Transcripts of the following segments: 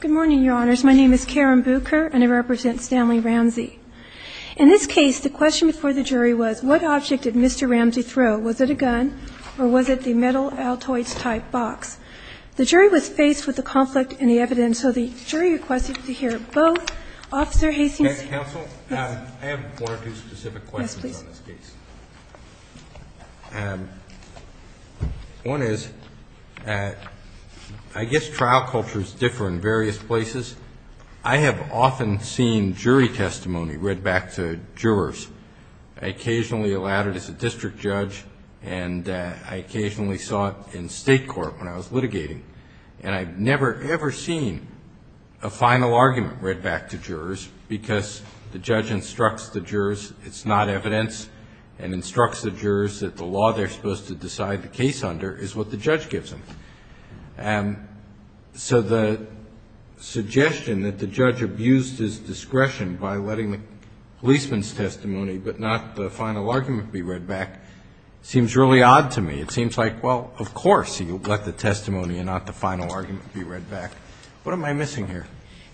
Good morning, Your Honors. My name is Karen Bucher, and I represent Stanley Ramsey. In this case, the question before the jury was, what object did Mr. Ramsey throw? Was it a gun or was it the metal Altoids-type box? The jury was faced with the conflict in the evidence, so the jury requested to hear both. Officer Hastings. Counsel? Yes. I have one or two specific questions on this case. One is, I guess trial cultures differ in various places. I have often seen jury testimony read back to jurors. I occasionally allowed it as a district judge, and I occasionally saw it in state court when I was litigating. And I've never, ever seen a final argument read back to jurors because the judge instructs the jurors it's not evidence. And instructs the jurors that the law they're supposed to decide the case under is what the judge gives them. So the suggestion that the judge abused his discretion by letting the policeman's testimony but not the final argument be read back seems really odd to me. It seems like, well, of course you let the testimony and not the final argument be read back. What am I missing here?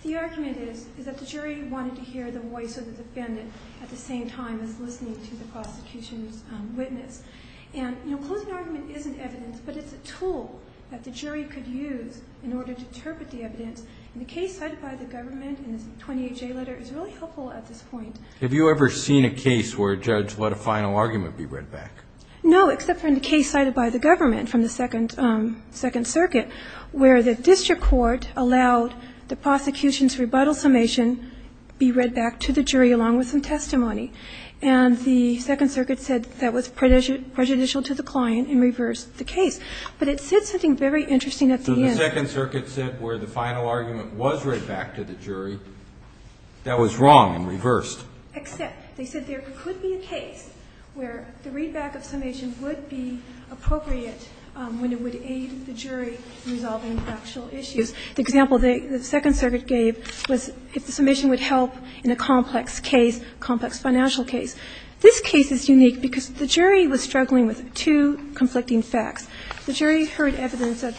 The argument is that the jury wanted to hear the voice of the defendant at the same time as listening to the prosecution's witness. And closing argument isn't evidence, but it's a tool that the jury could use in order to interpret the evidence. And the case cited by the government in this 28-J letter is really helpful at this point. Have you ever seen a case where a judge let a final argument be read back? No, except for in the case cited by the government from the Second Circuit, where the district court allowed the prosecution's rebuttal summation be read back to the jury along with some testimony. And the Second Circuit said that was prejudicial to the client and reversed the case. But it said something very interesting at the end. So the Second Circuit said where the final argument was read back to the jury, that was wrong and reversed. Except they said there could be a case where the read back of summation would be appropriate when it would aid the jury in resolving factual issues. The example the Second Circuit gave was if the summation would help in a complex case, complex financial case. This case is unique because the jury was struggling with two conflicting facts. The jury heard evidence that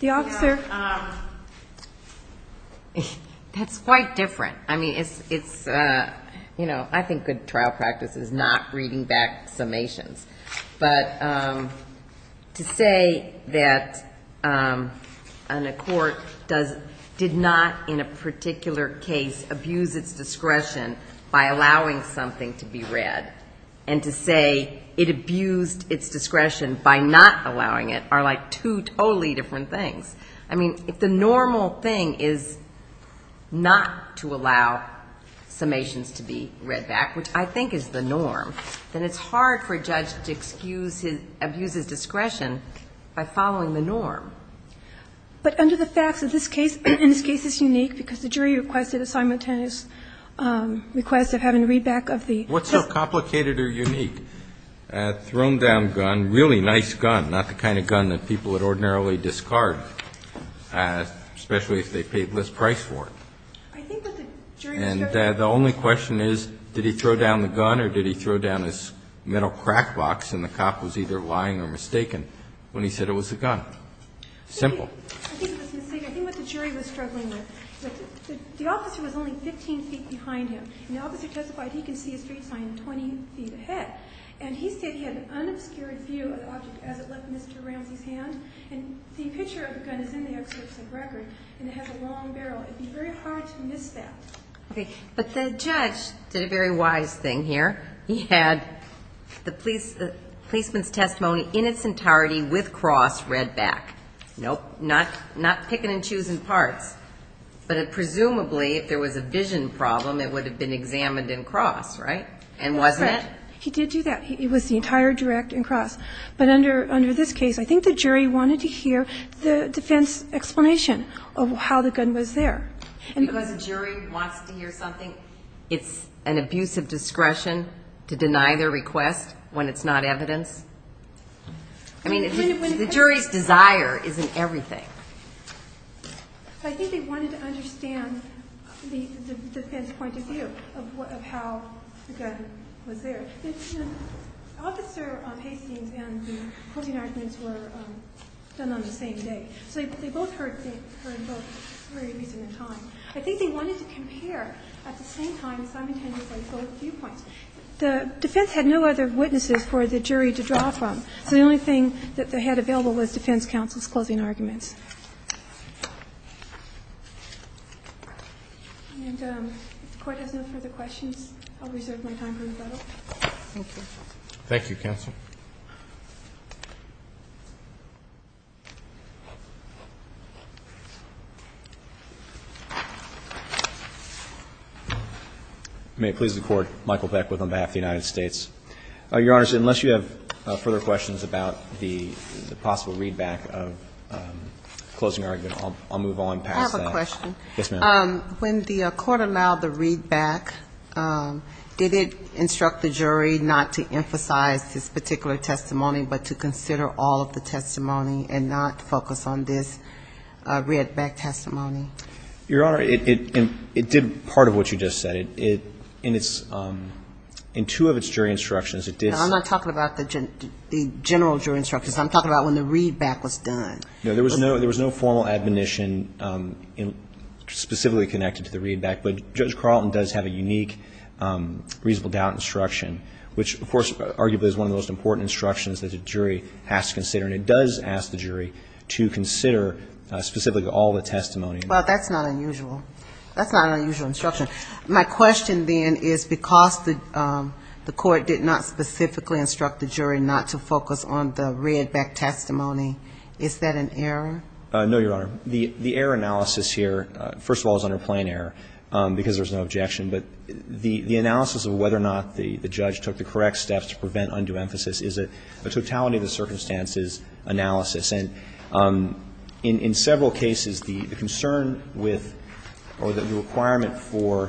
the officer ---- That's quite different. I mean, it's, you know, I think good trial practice is not reading back summations. But to say that a court did not in a particular case abuse its discretion by allowing something to be read and to say it abused its discretion by not allowing it are like two totally different things. I mean, if the normal thing is not to allow summations to be read back, which I think is the norm, then it's hard for a judge to excuse his ---- abuse his discretion by following the norm. But under the facts of this case, and this case is unique because the jury requested a simultaneous request of having read back of the ---- What's so complicated or unique? A thrown down gun, really nice gun, not the kind of gun that people would ordinarily discard. Especially if they paid less price for it. I think that the jury was struggling with ---- And the only question is, did he throw down the gun or did he throw down his metal crack box and the cop was either lying or mistaken when he said it was a gun? Simple. I think it was a mistake. I think what the jury was struggling with, the officer was only 15 feet behind him. And the officer testified he could see a street sign 20 feet ahead. And he said he had an unobscured view of the object as it left Mr. Ramsey's hand. And the picture of the gun is in the excerpt of the record and it has a long barrel. It would be very hard to miss that. Okay. But the judge did a very wise thing here. He had the policeman's testimony in its entirety with cross read back. Nope. Not picking and choosing parts. But presumably if there was a vision problem it would have been examined in cross, right? He did do that. It was the entire direct in cross. But under this case, I think the jury wanted to hear the defense explanation of how the gun was there. Because a jury wants to hear something, it's an abuse of discretion to deny their request when it's not evidence? I mean, the jury's desire isn't everything. I think they wanted to understand the defense point of view of how the gun was there. Officer Hastings and the closing arguments were done on the same day. So they both heard the same, heard both very recently in time. I think they wanted to compare at the same time simultaneously both viewpoints. The defense had no other witnesses for the jury to draw from. So the only thing that they had available was defense counsel's closing arguments. And if the Court has no further questions, I'll reserve my time for rebuttal. Thank you. Thank you, Counsel. May it please the Court, Michael Beckwith on behalf of the United States. Your Honor, unless you have further questions about the possible readback of closing argument, I'll move on past that. Yes, ma'am. When the Court allowed the readback, did it instruct the jury not to emphasize this particular testimony, but to consider all of the testimony and not focus on this readback testimony? Your Honor, it did part of what you just said. In two of its jury instructions, it did say... I'm not talking about the general jury instructions. I'm talking about when the readback was done. No, there was no formal admonition specifically connected to the readback. But Judge Carlton does have a unique reasonable doubt instruction, which, of course, arguably is one of the most important instructions that a jury has to consider. And it does ask the jury to consider specifically all the testimony. Well, that's not unusual. That's not an unusual instruction. My question then is because the Court did not specifically instruct the jury not to focus on the readback testimony, is that an error? No, Your Honor. The error analysis here, first of all, is under plain error, because there's no objection. But the analysis of whether or not the judge took the correct steps to prevent undue emphasis is a totality of the circumstances analysis. And in several cases, the concern with or the requirement for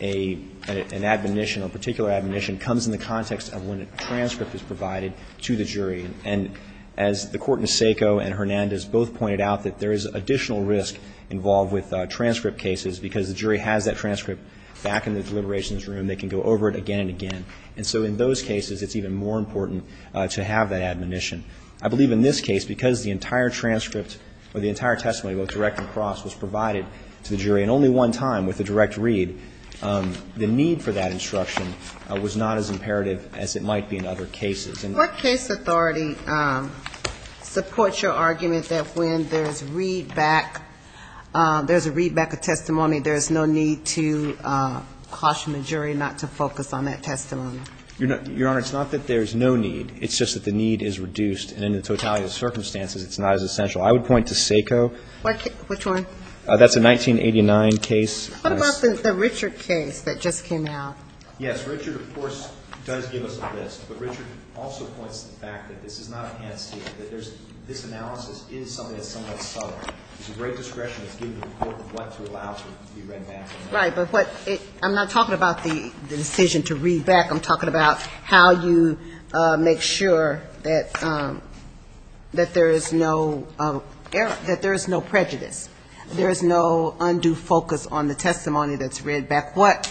an admonition, a particular admonition, comes in the context of when a transcript is provided to the jury. And as the Court in Asseco and Hernandez both pointed out, that there is additional risk involved with transcript cases, because the jury has that transcript back in the deliberations room, they can go over it again and again. And so in those cases, it's even more important to have that admonition. I believe in this case, because the entire transcript or the entire testimony about direct and cross was provided to the jury in only one time with a direct read, the need for that instruction was not as imperative as it might be in other cases. What case authority supports your argument that when there's readback, there's a readback of testimony, there's no need to caution the jury not to focus on that testimony? Your Honor, it's not that there's no need. It's just that the need is reduced. And in the totality of the circumstances, it's not as essential. I would point to SACO. Which one? That's a 1989 case. What about the Richard case that just came out? Yes, Richard, of course, does give us a list. But Richard also points to the fact that this is not enhanced data, that there's this analysis is something that's somewhat subtle. There's a great discretion that's given to the court of what to allow to be readbacked. Right, but what it, I'm not talking about the decision to readback. I'm talking about how you make sure that there is no, that there is no prejudice. There is no undue focus on the testimony that's readbacked. What,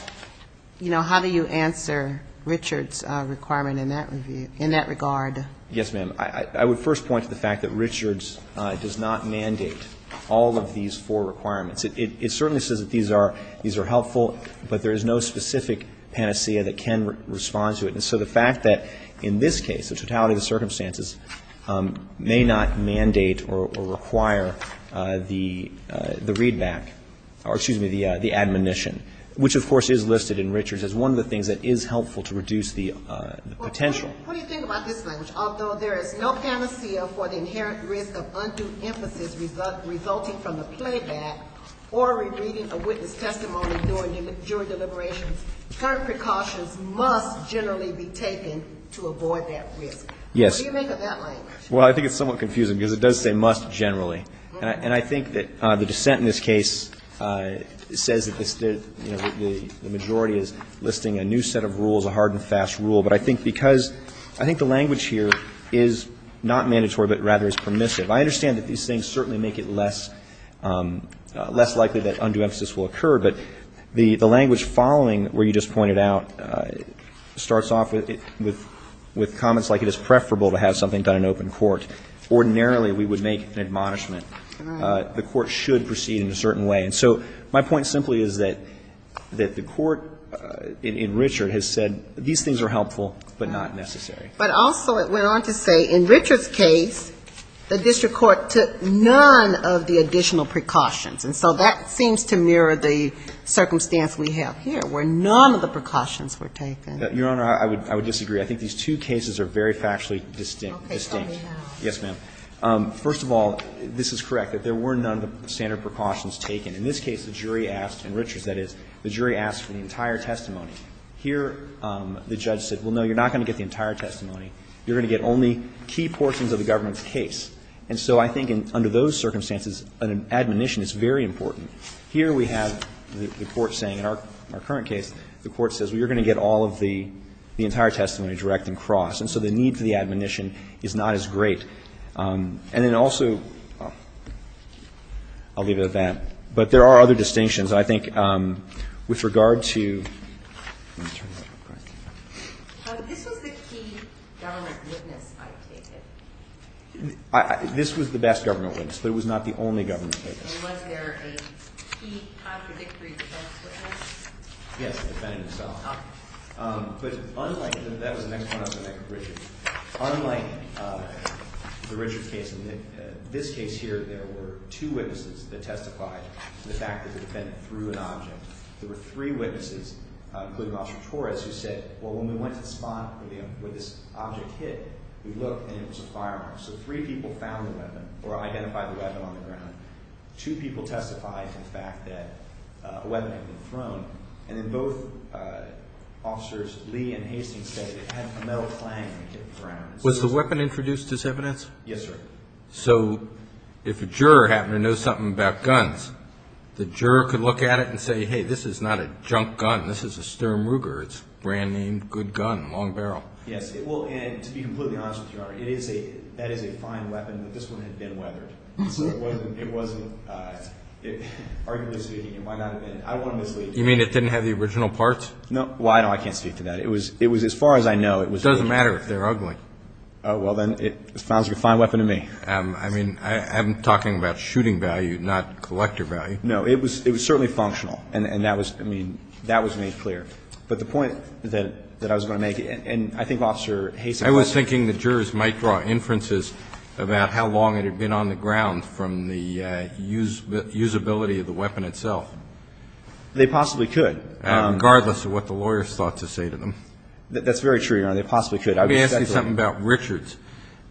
you know, how do you answer Richard's requirement in that review, in that regard? Yes, ma'am. I would first point to the fact that Richard's does not mandate all of these four requirements. It certainly says that these are helpful, but there is no specific panacea that can respond to it. And so the fact that in this case, the totality of the circumstances may not mandate or require the readback, or excuse me, the admonition, which, of course, is listed in Richard's as one of the things that is helpful to reduce the potential. What do you think about this language? Although there is no panacea for the inherent risk of undue emphasis resulting from the playback or rereading a witness testimony during jury deliberations, current precautions must generally be taken to avoid that risk. Yes. What do you make of that language? Well, I think it's somewhat confusing, because it does say must generally. And I think that the dissent in this case says that this, you know, the majority is listing a new set of rules, a hard and fast rule. But I think because I think the language here is not mandatory, but rather is permissive. I understand that these things certainly make it less likely that undue emphasis will occur, but the language following where you just pointed out starts off with comments like it is preferable to have something done in open court. Ordinarily, we would make an admonishment. The court should proceed in a certain way. And so my point simply is that the court in Richard has said these things are helpful, but not necessary. But also it went on to say in Richard's case, the district court took none of the additional precautions. And so that seems to mirror the circumstance we have here, where none of the precautions were taken. Your Honor, I would disagree. I think these two cases are very factually distinct. Yes, ma'am. First of all, this is correct, that there were none of the standard precautions taken. In this case, the jury asked, in Richard's that is, the jury asked for the entire testimony. Here, the judge said, well, no, you're not going to get the entire testimony. You're going to get only key portions of the government's case. And so I think under those circumstances, an admonition is very important. Here we have the court saying in our current case, the court says, well, you're not going to get all of the entire testimony direct and cross. And so the need for the admonition is not as great. And then also, I'll leave it at that. But there are other distinctions. I think with regard to, let me turn this over. This was the key government witness, I take it. This was the best government witness, but it was not the only government witness. And was there a key contradictory defense witness? Yes, the defendant himself. But unlike, that was the next one, I was going to go back to Richard. Unlike the Richard case, in this case here, there were two witnesses that testified to the fact that the defendant threw an object. There were three witnesses, including Officer Torres, who said, well, when we went to the spot where this object hit, we looked and it was a firearm. So three people found the weapon or identified the weapon on the ground. Two people testified to the fact that a weapon had been thrown. And then both officers, Lee and Hastings, said it had a metal clang when it hit the ground. Was the weapon introduced as evidence? Yes, sir. So if a juror happened to know something about guns, the juror could look at it and say, hey, this is not a junk gun. This is a Sturm Ruger. It's a brand-name, good gun, long barrel. Yes, it will. And to be completely honest with you, Your Honor, that is a fine weapon, but this one had been weathered. So it wasn't, arguably speaking, it might not have been. I don't want to mislead you. You mean it didn't have the original parts? No. Well, I know I can't speak to that. It was, as far as I know, it was. It doesn't matter if they're ugly. Oh, well, then it sounds like a fine weapon to me. I mean, I'm talking about shooting value, not collector value. No, it was certainly functional. And that was, I mean, that was made clear. But the point that I was going to make, and I think Officer Hastings. I was thinking the jurors might draw inferences about how long it had been on the ground from the usability of the weapon itself. They possibly could. Regardless of what the lawyers thought to say to them. That's very true, Your Honor. They possibly could. Let me ask you something about Richards.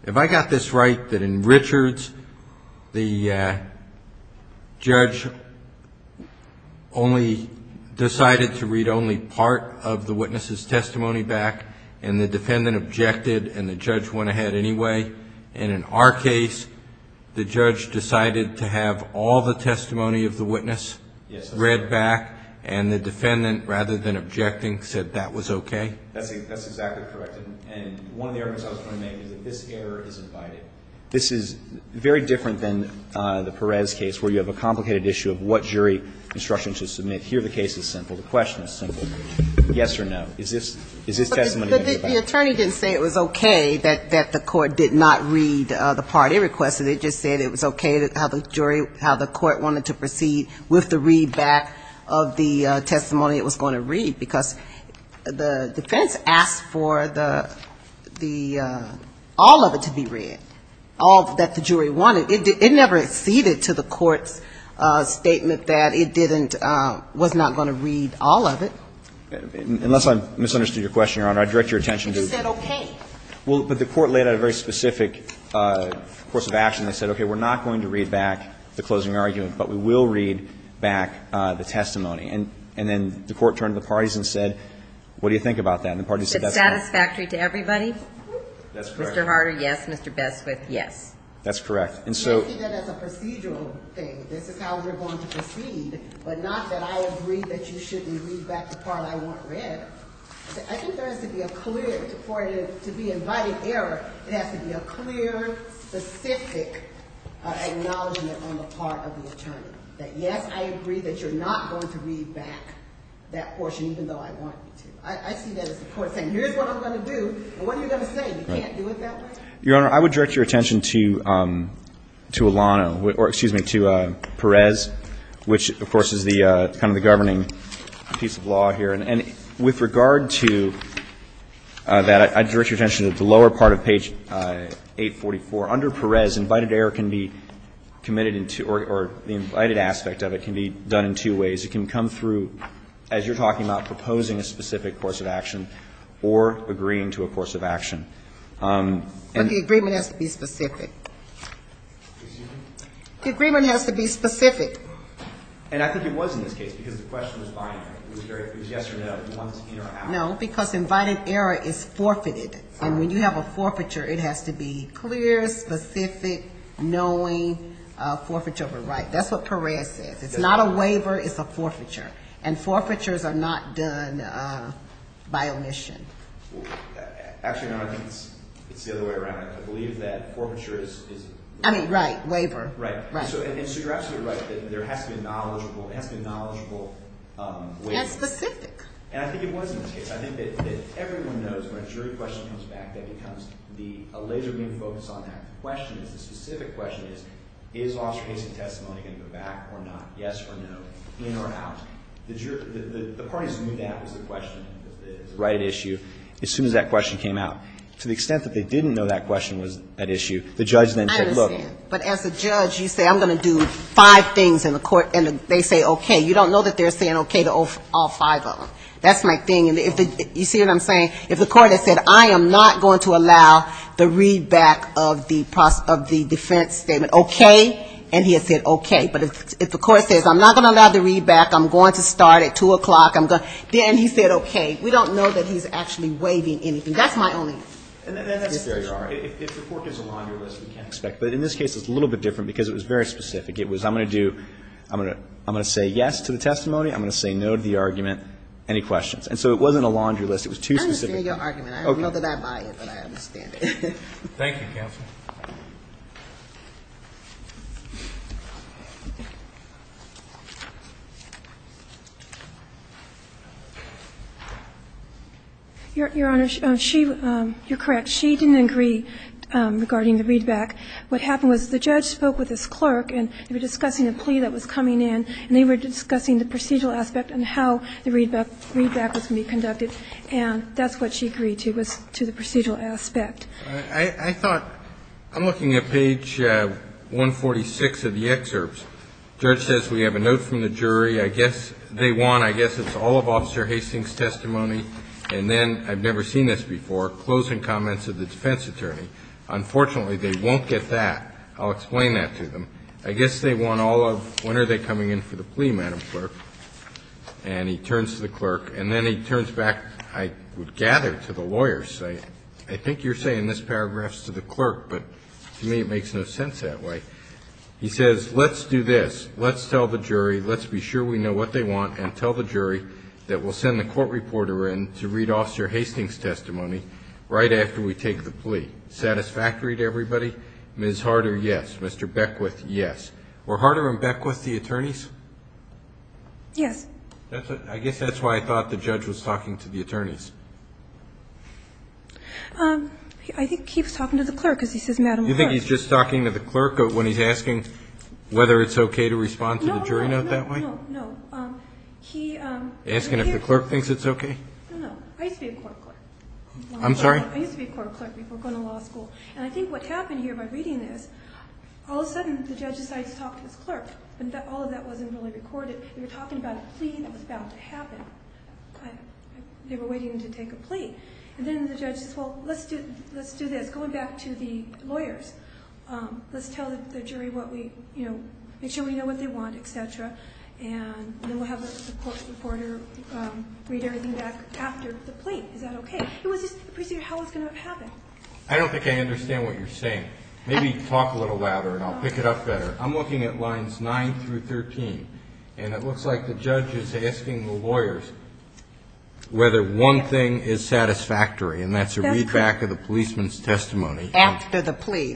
Have I got this right that in Richards, the judge only decided to read only part of the witness's testimony back and the defendant objected and the judge went ahead anyway? And in our case, the judge decided to have all the testimony of the witness read back and the defendant, rather than objecting, said that was okay? That's exactly correct. And one of the arguments I was going to make is that this error is abiding. This is very different than the Perez case where you have a complicated issue of what jury instruction to submit. Here the case is simple. The question is simple. Yes or no? Is this testimony abiding? The attorney didn't say it was okay that the court did not read the party request. It just said it was okay how the jury, how the court wanted to proceed with the readback of the testimony it was going to read, because the defense asked for the all of it to be read, all that the jury wanted. It never acceded to the court's statement that it didn't, was not going to read all of it. Unless I misunderstood your question, Your Honor, I'd direct your attention to the court. It just said okay. It said okay, we're not going to read back the closing argument, but we will read back the testimony. And then the court turned to the parties and said what do you think about that? And the parties said that's fine. It's satisfactory to everybody? That's correct. Mr. Harder, yes. Mr. Beswit, yes. That's correct. And so you see that as a procedural thing. This is how we're going to proceed. But not that I agree that you shouldn't read back the part I want read. I think there has to be a clear, for it to be an abiding error, it has to be a clear, specific acknowledgment on the part of the attorney, that yes, I agree that you're not going to read back that portion even though I want you to. I see that as the court saying here's what I'm going to do, and what are you going to say? You can't do it that way? Your Honor, I would direct your attention to Alano, or excuse me, to Perez, which of course is kind of the governing piece of law here. And with regard to that, I'd direct your attention to the lower part of page 844. Under Perez, invited error can be committed in two or the invited aspect of it can be done in two ways. It can come through, as you're talking about, proposing a specific course of action or agreeing to a course of action. But the agreement has to be specific. Excuse me? The agreement has to be specific. And I think it was in this case because the question was binary. It was yes or no, once in or out. No, because invited error is forfeited. And when you have a forfeiture, it has to be clear, specific, knowing, forfeiture over right. That's what Perez says. It's not a waiver. It's a forfeiture. And forfeitures are not done by omission. Actually, Your Honor, I think it's the other way around. I believe that forfeiture is... I mean, right, waiver. Right. Right. And so you're absolutely right that there has to be a knowledgeable waiver. And specific. And I think it was in this case. I think that everyone knows when a jury question comes back, that becomes a laser beam focus on that question. The specific question is, is officer case and testimony going to go back or not? Yes or no? In or out? The parties knew that was the question, the right at issue, as soon as that question came out. To the extent that they didn't know that question was at issue, the judge then said, look... I understand. But as a judge, you say, I'm going to do five things in the court. And they say, okay. You don't know that they're saying okay to all five of them. That's my thing. And you see what I'm saying? If the court had said, I am not going to allow the readback of the defense statement, okay, and he had said, okay. But if the court says, I'm not going to allow the readback, I'm going to start at 2 o'clock, I'm going to... Then he said, okay. We don't know that he's actually waiving anything. That's my only... And that's fair, Your Honor. If the court gives a laundry list, we can't expect. But in this case, it's a little bit different because it was very specific. It was, I'm going to do, I'm going to say yes to the testimony. I'm going to say no to the argument. Any questions? And so it wasn't a laundry list. It was two specific... I understand your argument. I don't know that I buy it, but I understand it. Thank you, counsel. Your Honor, she, you're correct. She didn't agree regarding the readback. What happened was the judge spoke with his clerk, and they were discussing the plea that was coming in, and they were discussing the procedural aspect and how the readback was going to be conducted. And that's what she agreed to was to the procedural aspect. I thought, I'm looking at page 146 of the excerpts. The judge says we have a note from the jury. I guess it's all of Officer Hastings' testimony. And then, I've never seen this before, closing comments of the defense attorney. Unfortunately, they won't get that. I'll explain that to them. I guess they want all of, when are they coming in for the plea, Madam Clerk? And he turns to the clerk, and then he turns back, I would gather, to the lawyers. I think you're saying this paragraph's to the clerk, but to me it makes no sense that way. He says, let's do this. Let's tell the jury, let's be sure we know what they want, and tell the jury that we'll send the court reporter in to read Officer Hastings' testimony right after we take the plea. Satisfactory to everybody? Ms. Harder, yes. Mr. Beckwith, yes. Were Harder and Beckwith the attorneys? Yes. I guess that's why I thought the judge was talking to the attorneys. I think he was talking to the clerk, because he says, Madam Clerk. You think he's just talking to the clerk when he's asking whether it's okay to respond to the jury note that way? No, no, no. Asking if the clerk thinks it's okay? No, no. I used to be a court clerk. I'm sorry? I used to be a court clerk before going to law school. And I think what happened here by reading this, all of a sudden the judge decides to talk to his clerk. But all of that wasn't really recorded. They were talking about a plea that was bound to happen. They were waiting to take a plea. And then the judge says, well, let's do this. Going back to the lawyers, let's tell the jury what we, you know, make sure we know what they want, et cetera. And then we'll have the court reporter read everything back after the plea. Is that okay? It was just a procedure. How was it going to happen? I don't think I understand what you're saying. Maybe talk a little louder, and I'll pick it up better. I'm looking at lines 9 through 13. And it looks like the judge is asking the lawyers whether one thing is satisfactory, and that's a readback of the policeman's testimony. After the plea.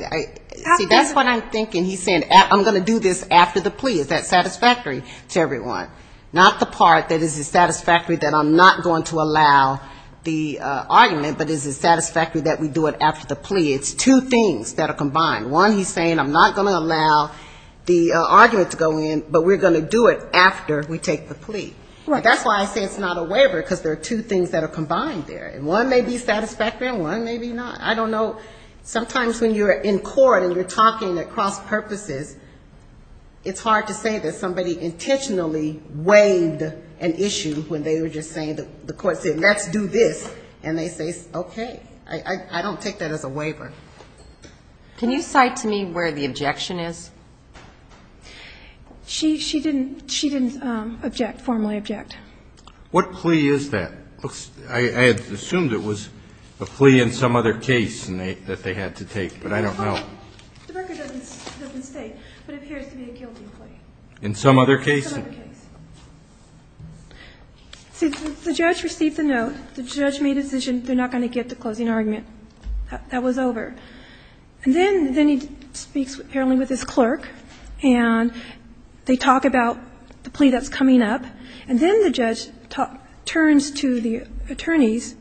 See, that's what I'm thinking. And he's saying, I'm going to do this after the plea. Is that satisfactory to everyone? Not the part that is it satisfactory that I'm not going to allow the argument, but is it satisfactory that we do it after the plea? It's two things that are combined. One, he's saying, I'm not going to allow the argument to go in, but we're going to do it after we take the plea. That's why I say it's not a waiver, because there are two things that are combined there. One may be satisfactory, and one may be not. I don't know. Sometimes when you're in court and you're talking at cross purposes, it's hard to say that somebody intentionally waived an issue when they were just saying, the court said, let's do this, and they say, okay. I don't take that as a waiver. Can you cite to me where the objection is? She didn't formally object. What plea is that? I assumed it was a plea in some other case that they had to take, but I don't know. The record doesn't state, but it appears to be a guilty plea. In some other case? In some other case. See, the judge received the note. The judge made a decision they're not going to get the closing argument. That was over. And then he speaks apparently with his clerk, and they talk about the plea that's coming up, and then the judge turns to the attorneys,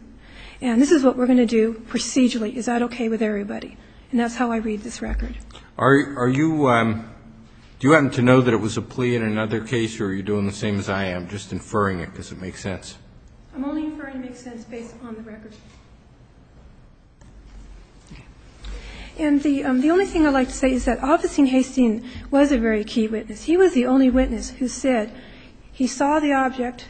and this is what we're going to do procedurally. Is that okay with everybody? And that's how I read this record. Are you do you happen to know that it was a plea in another case, or are you doing the same as I am, just inferring it because it makes sense? I'm only inferring it makes sense based upon the record. And the only thing I'd like to say is that Officer Hastings was a very key witness. He was the only witness who said he saw the object,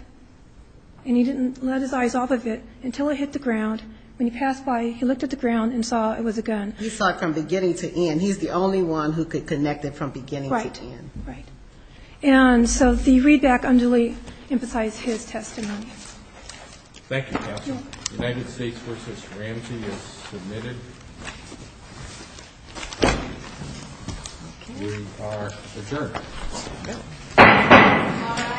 and he didn't let his eyes off of it until it hit the ground. When he passed by, he looked at the ground and saw it was a gun. He saw it from beginning to end. He's the only one who could connect it from beginning to end. Right. Right. And so the readback unduly emphasized his testimony. Thank you, Counsel. The United States v. Ramsey is submitted. We are adjourned.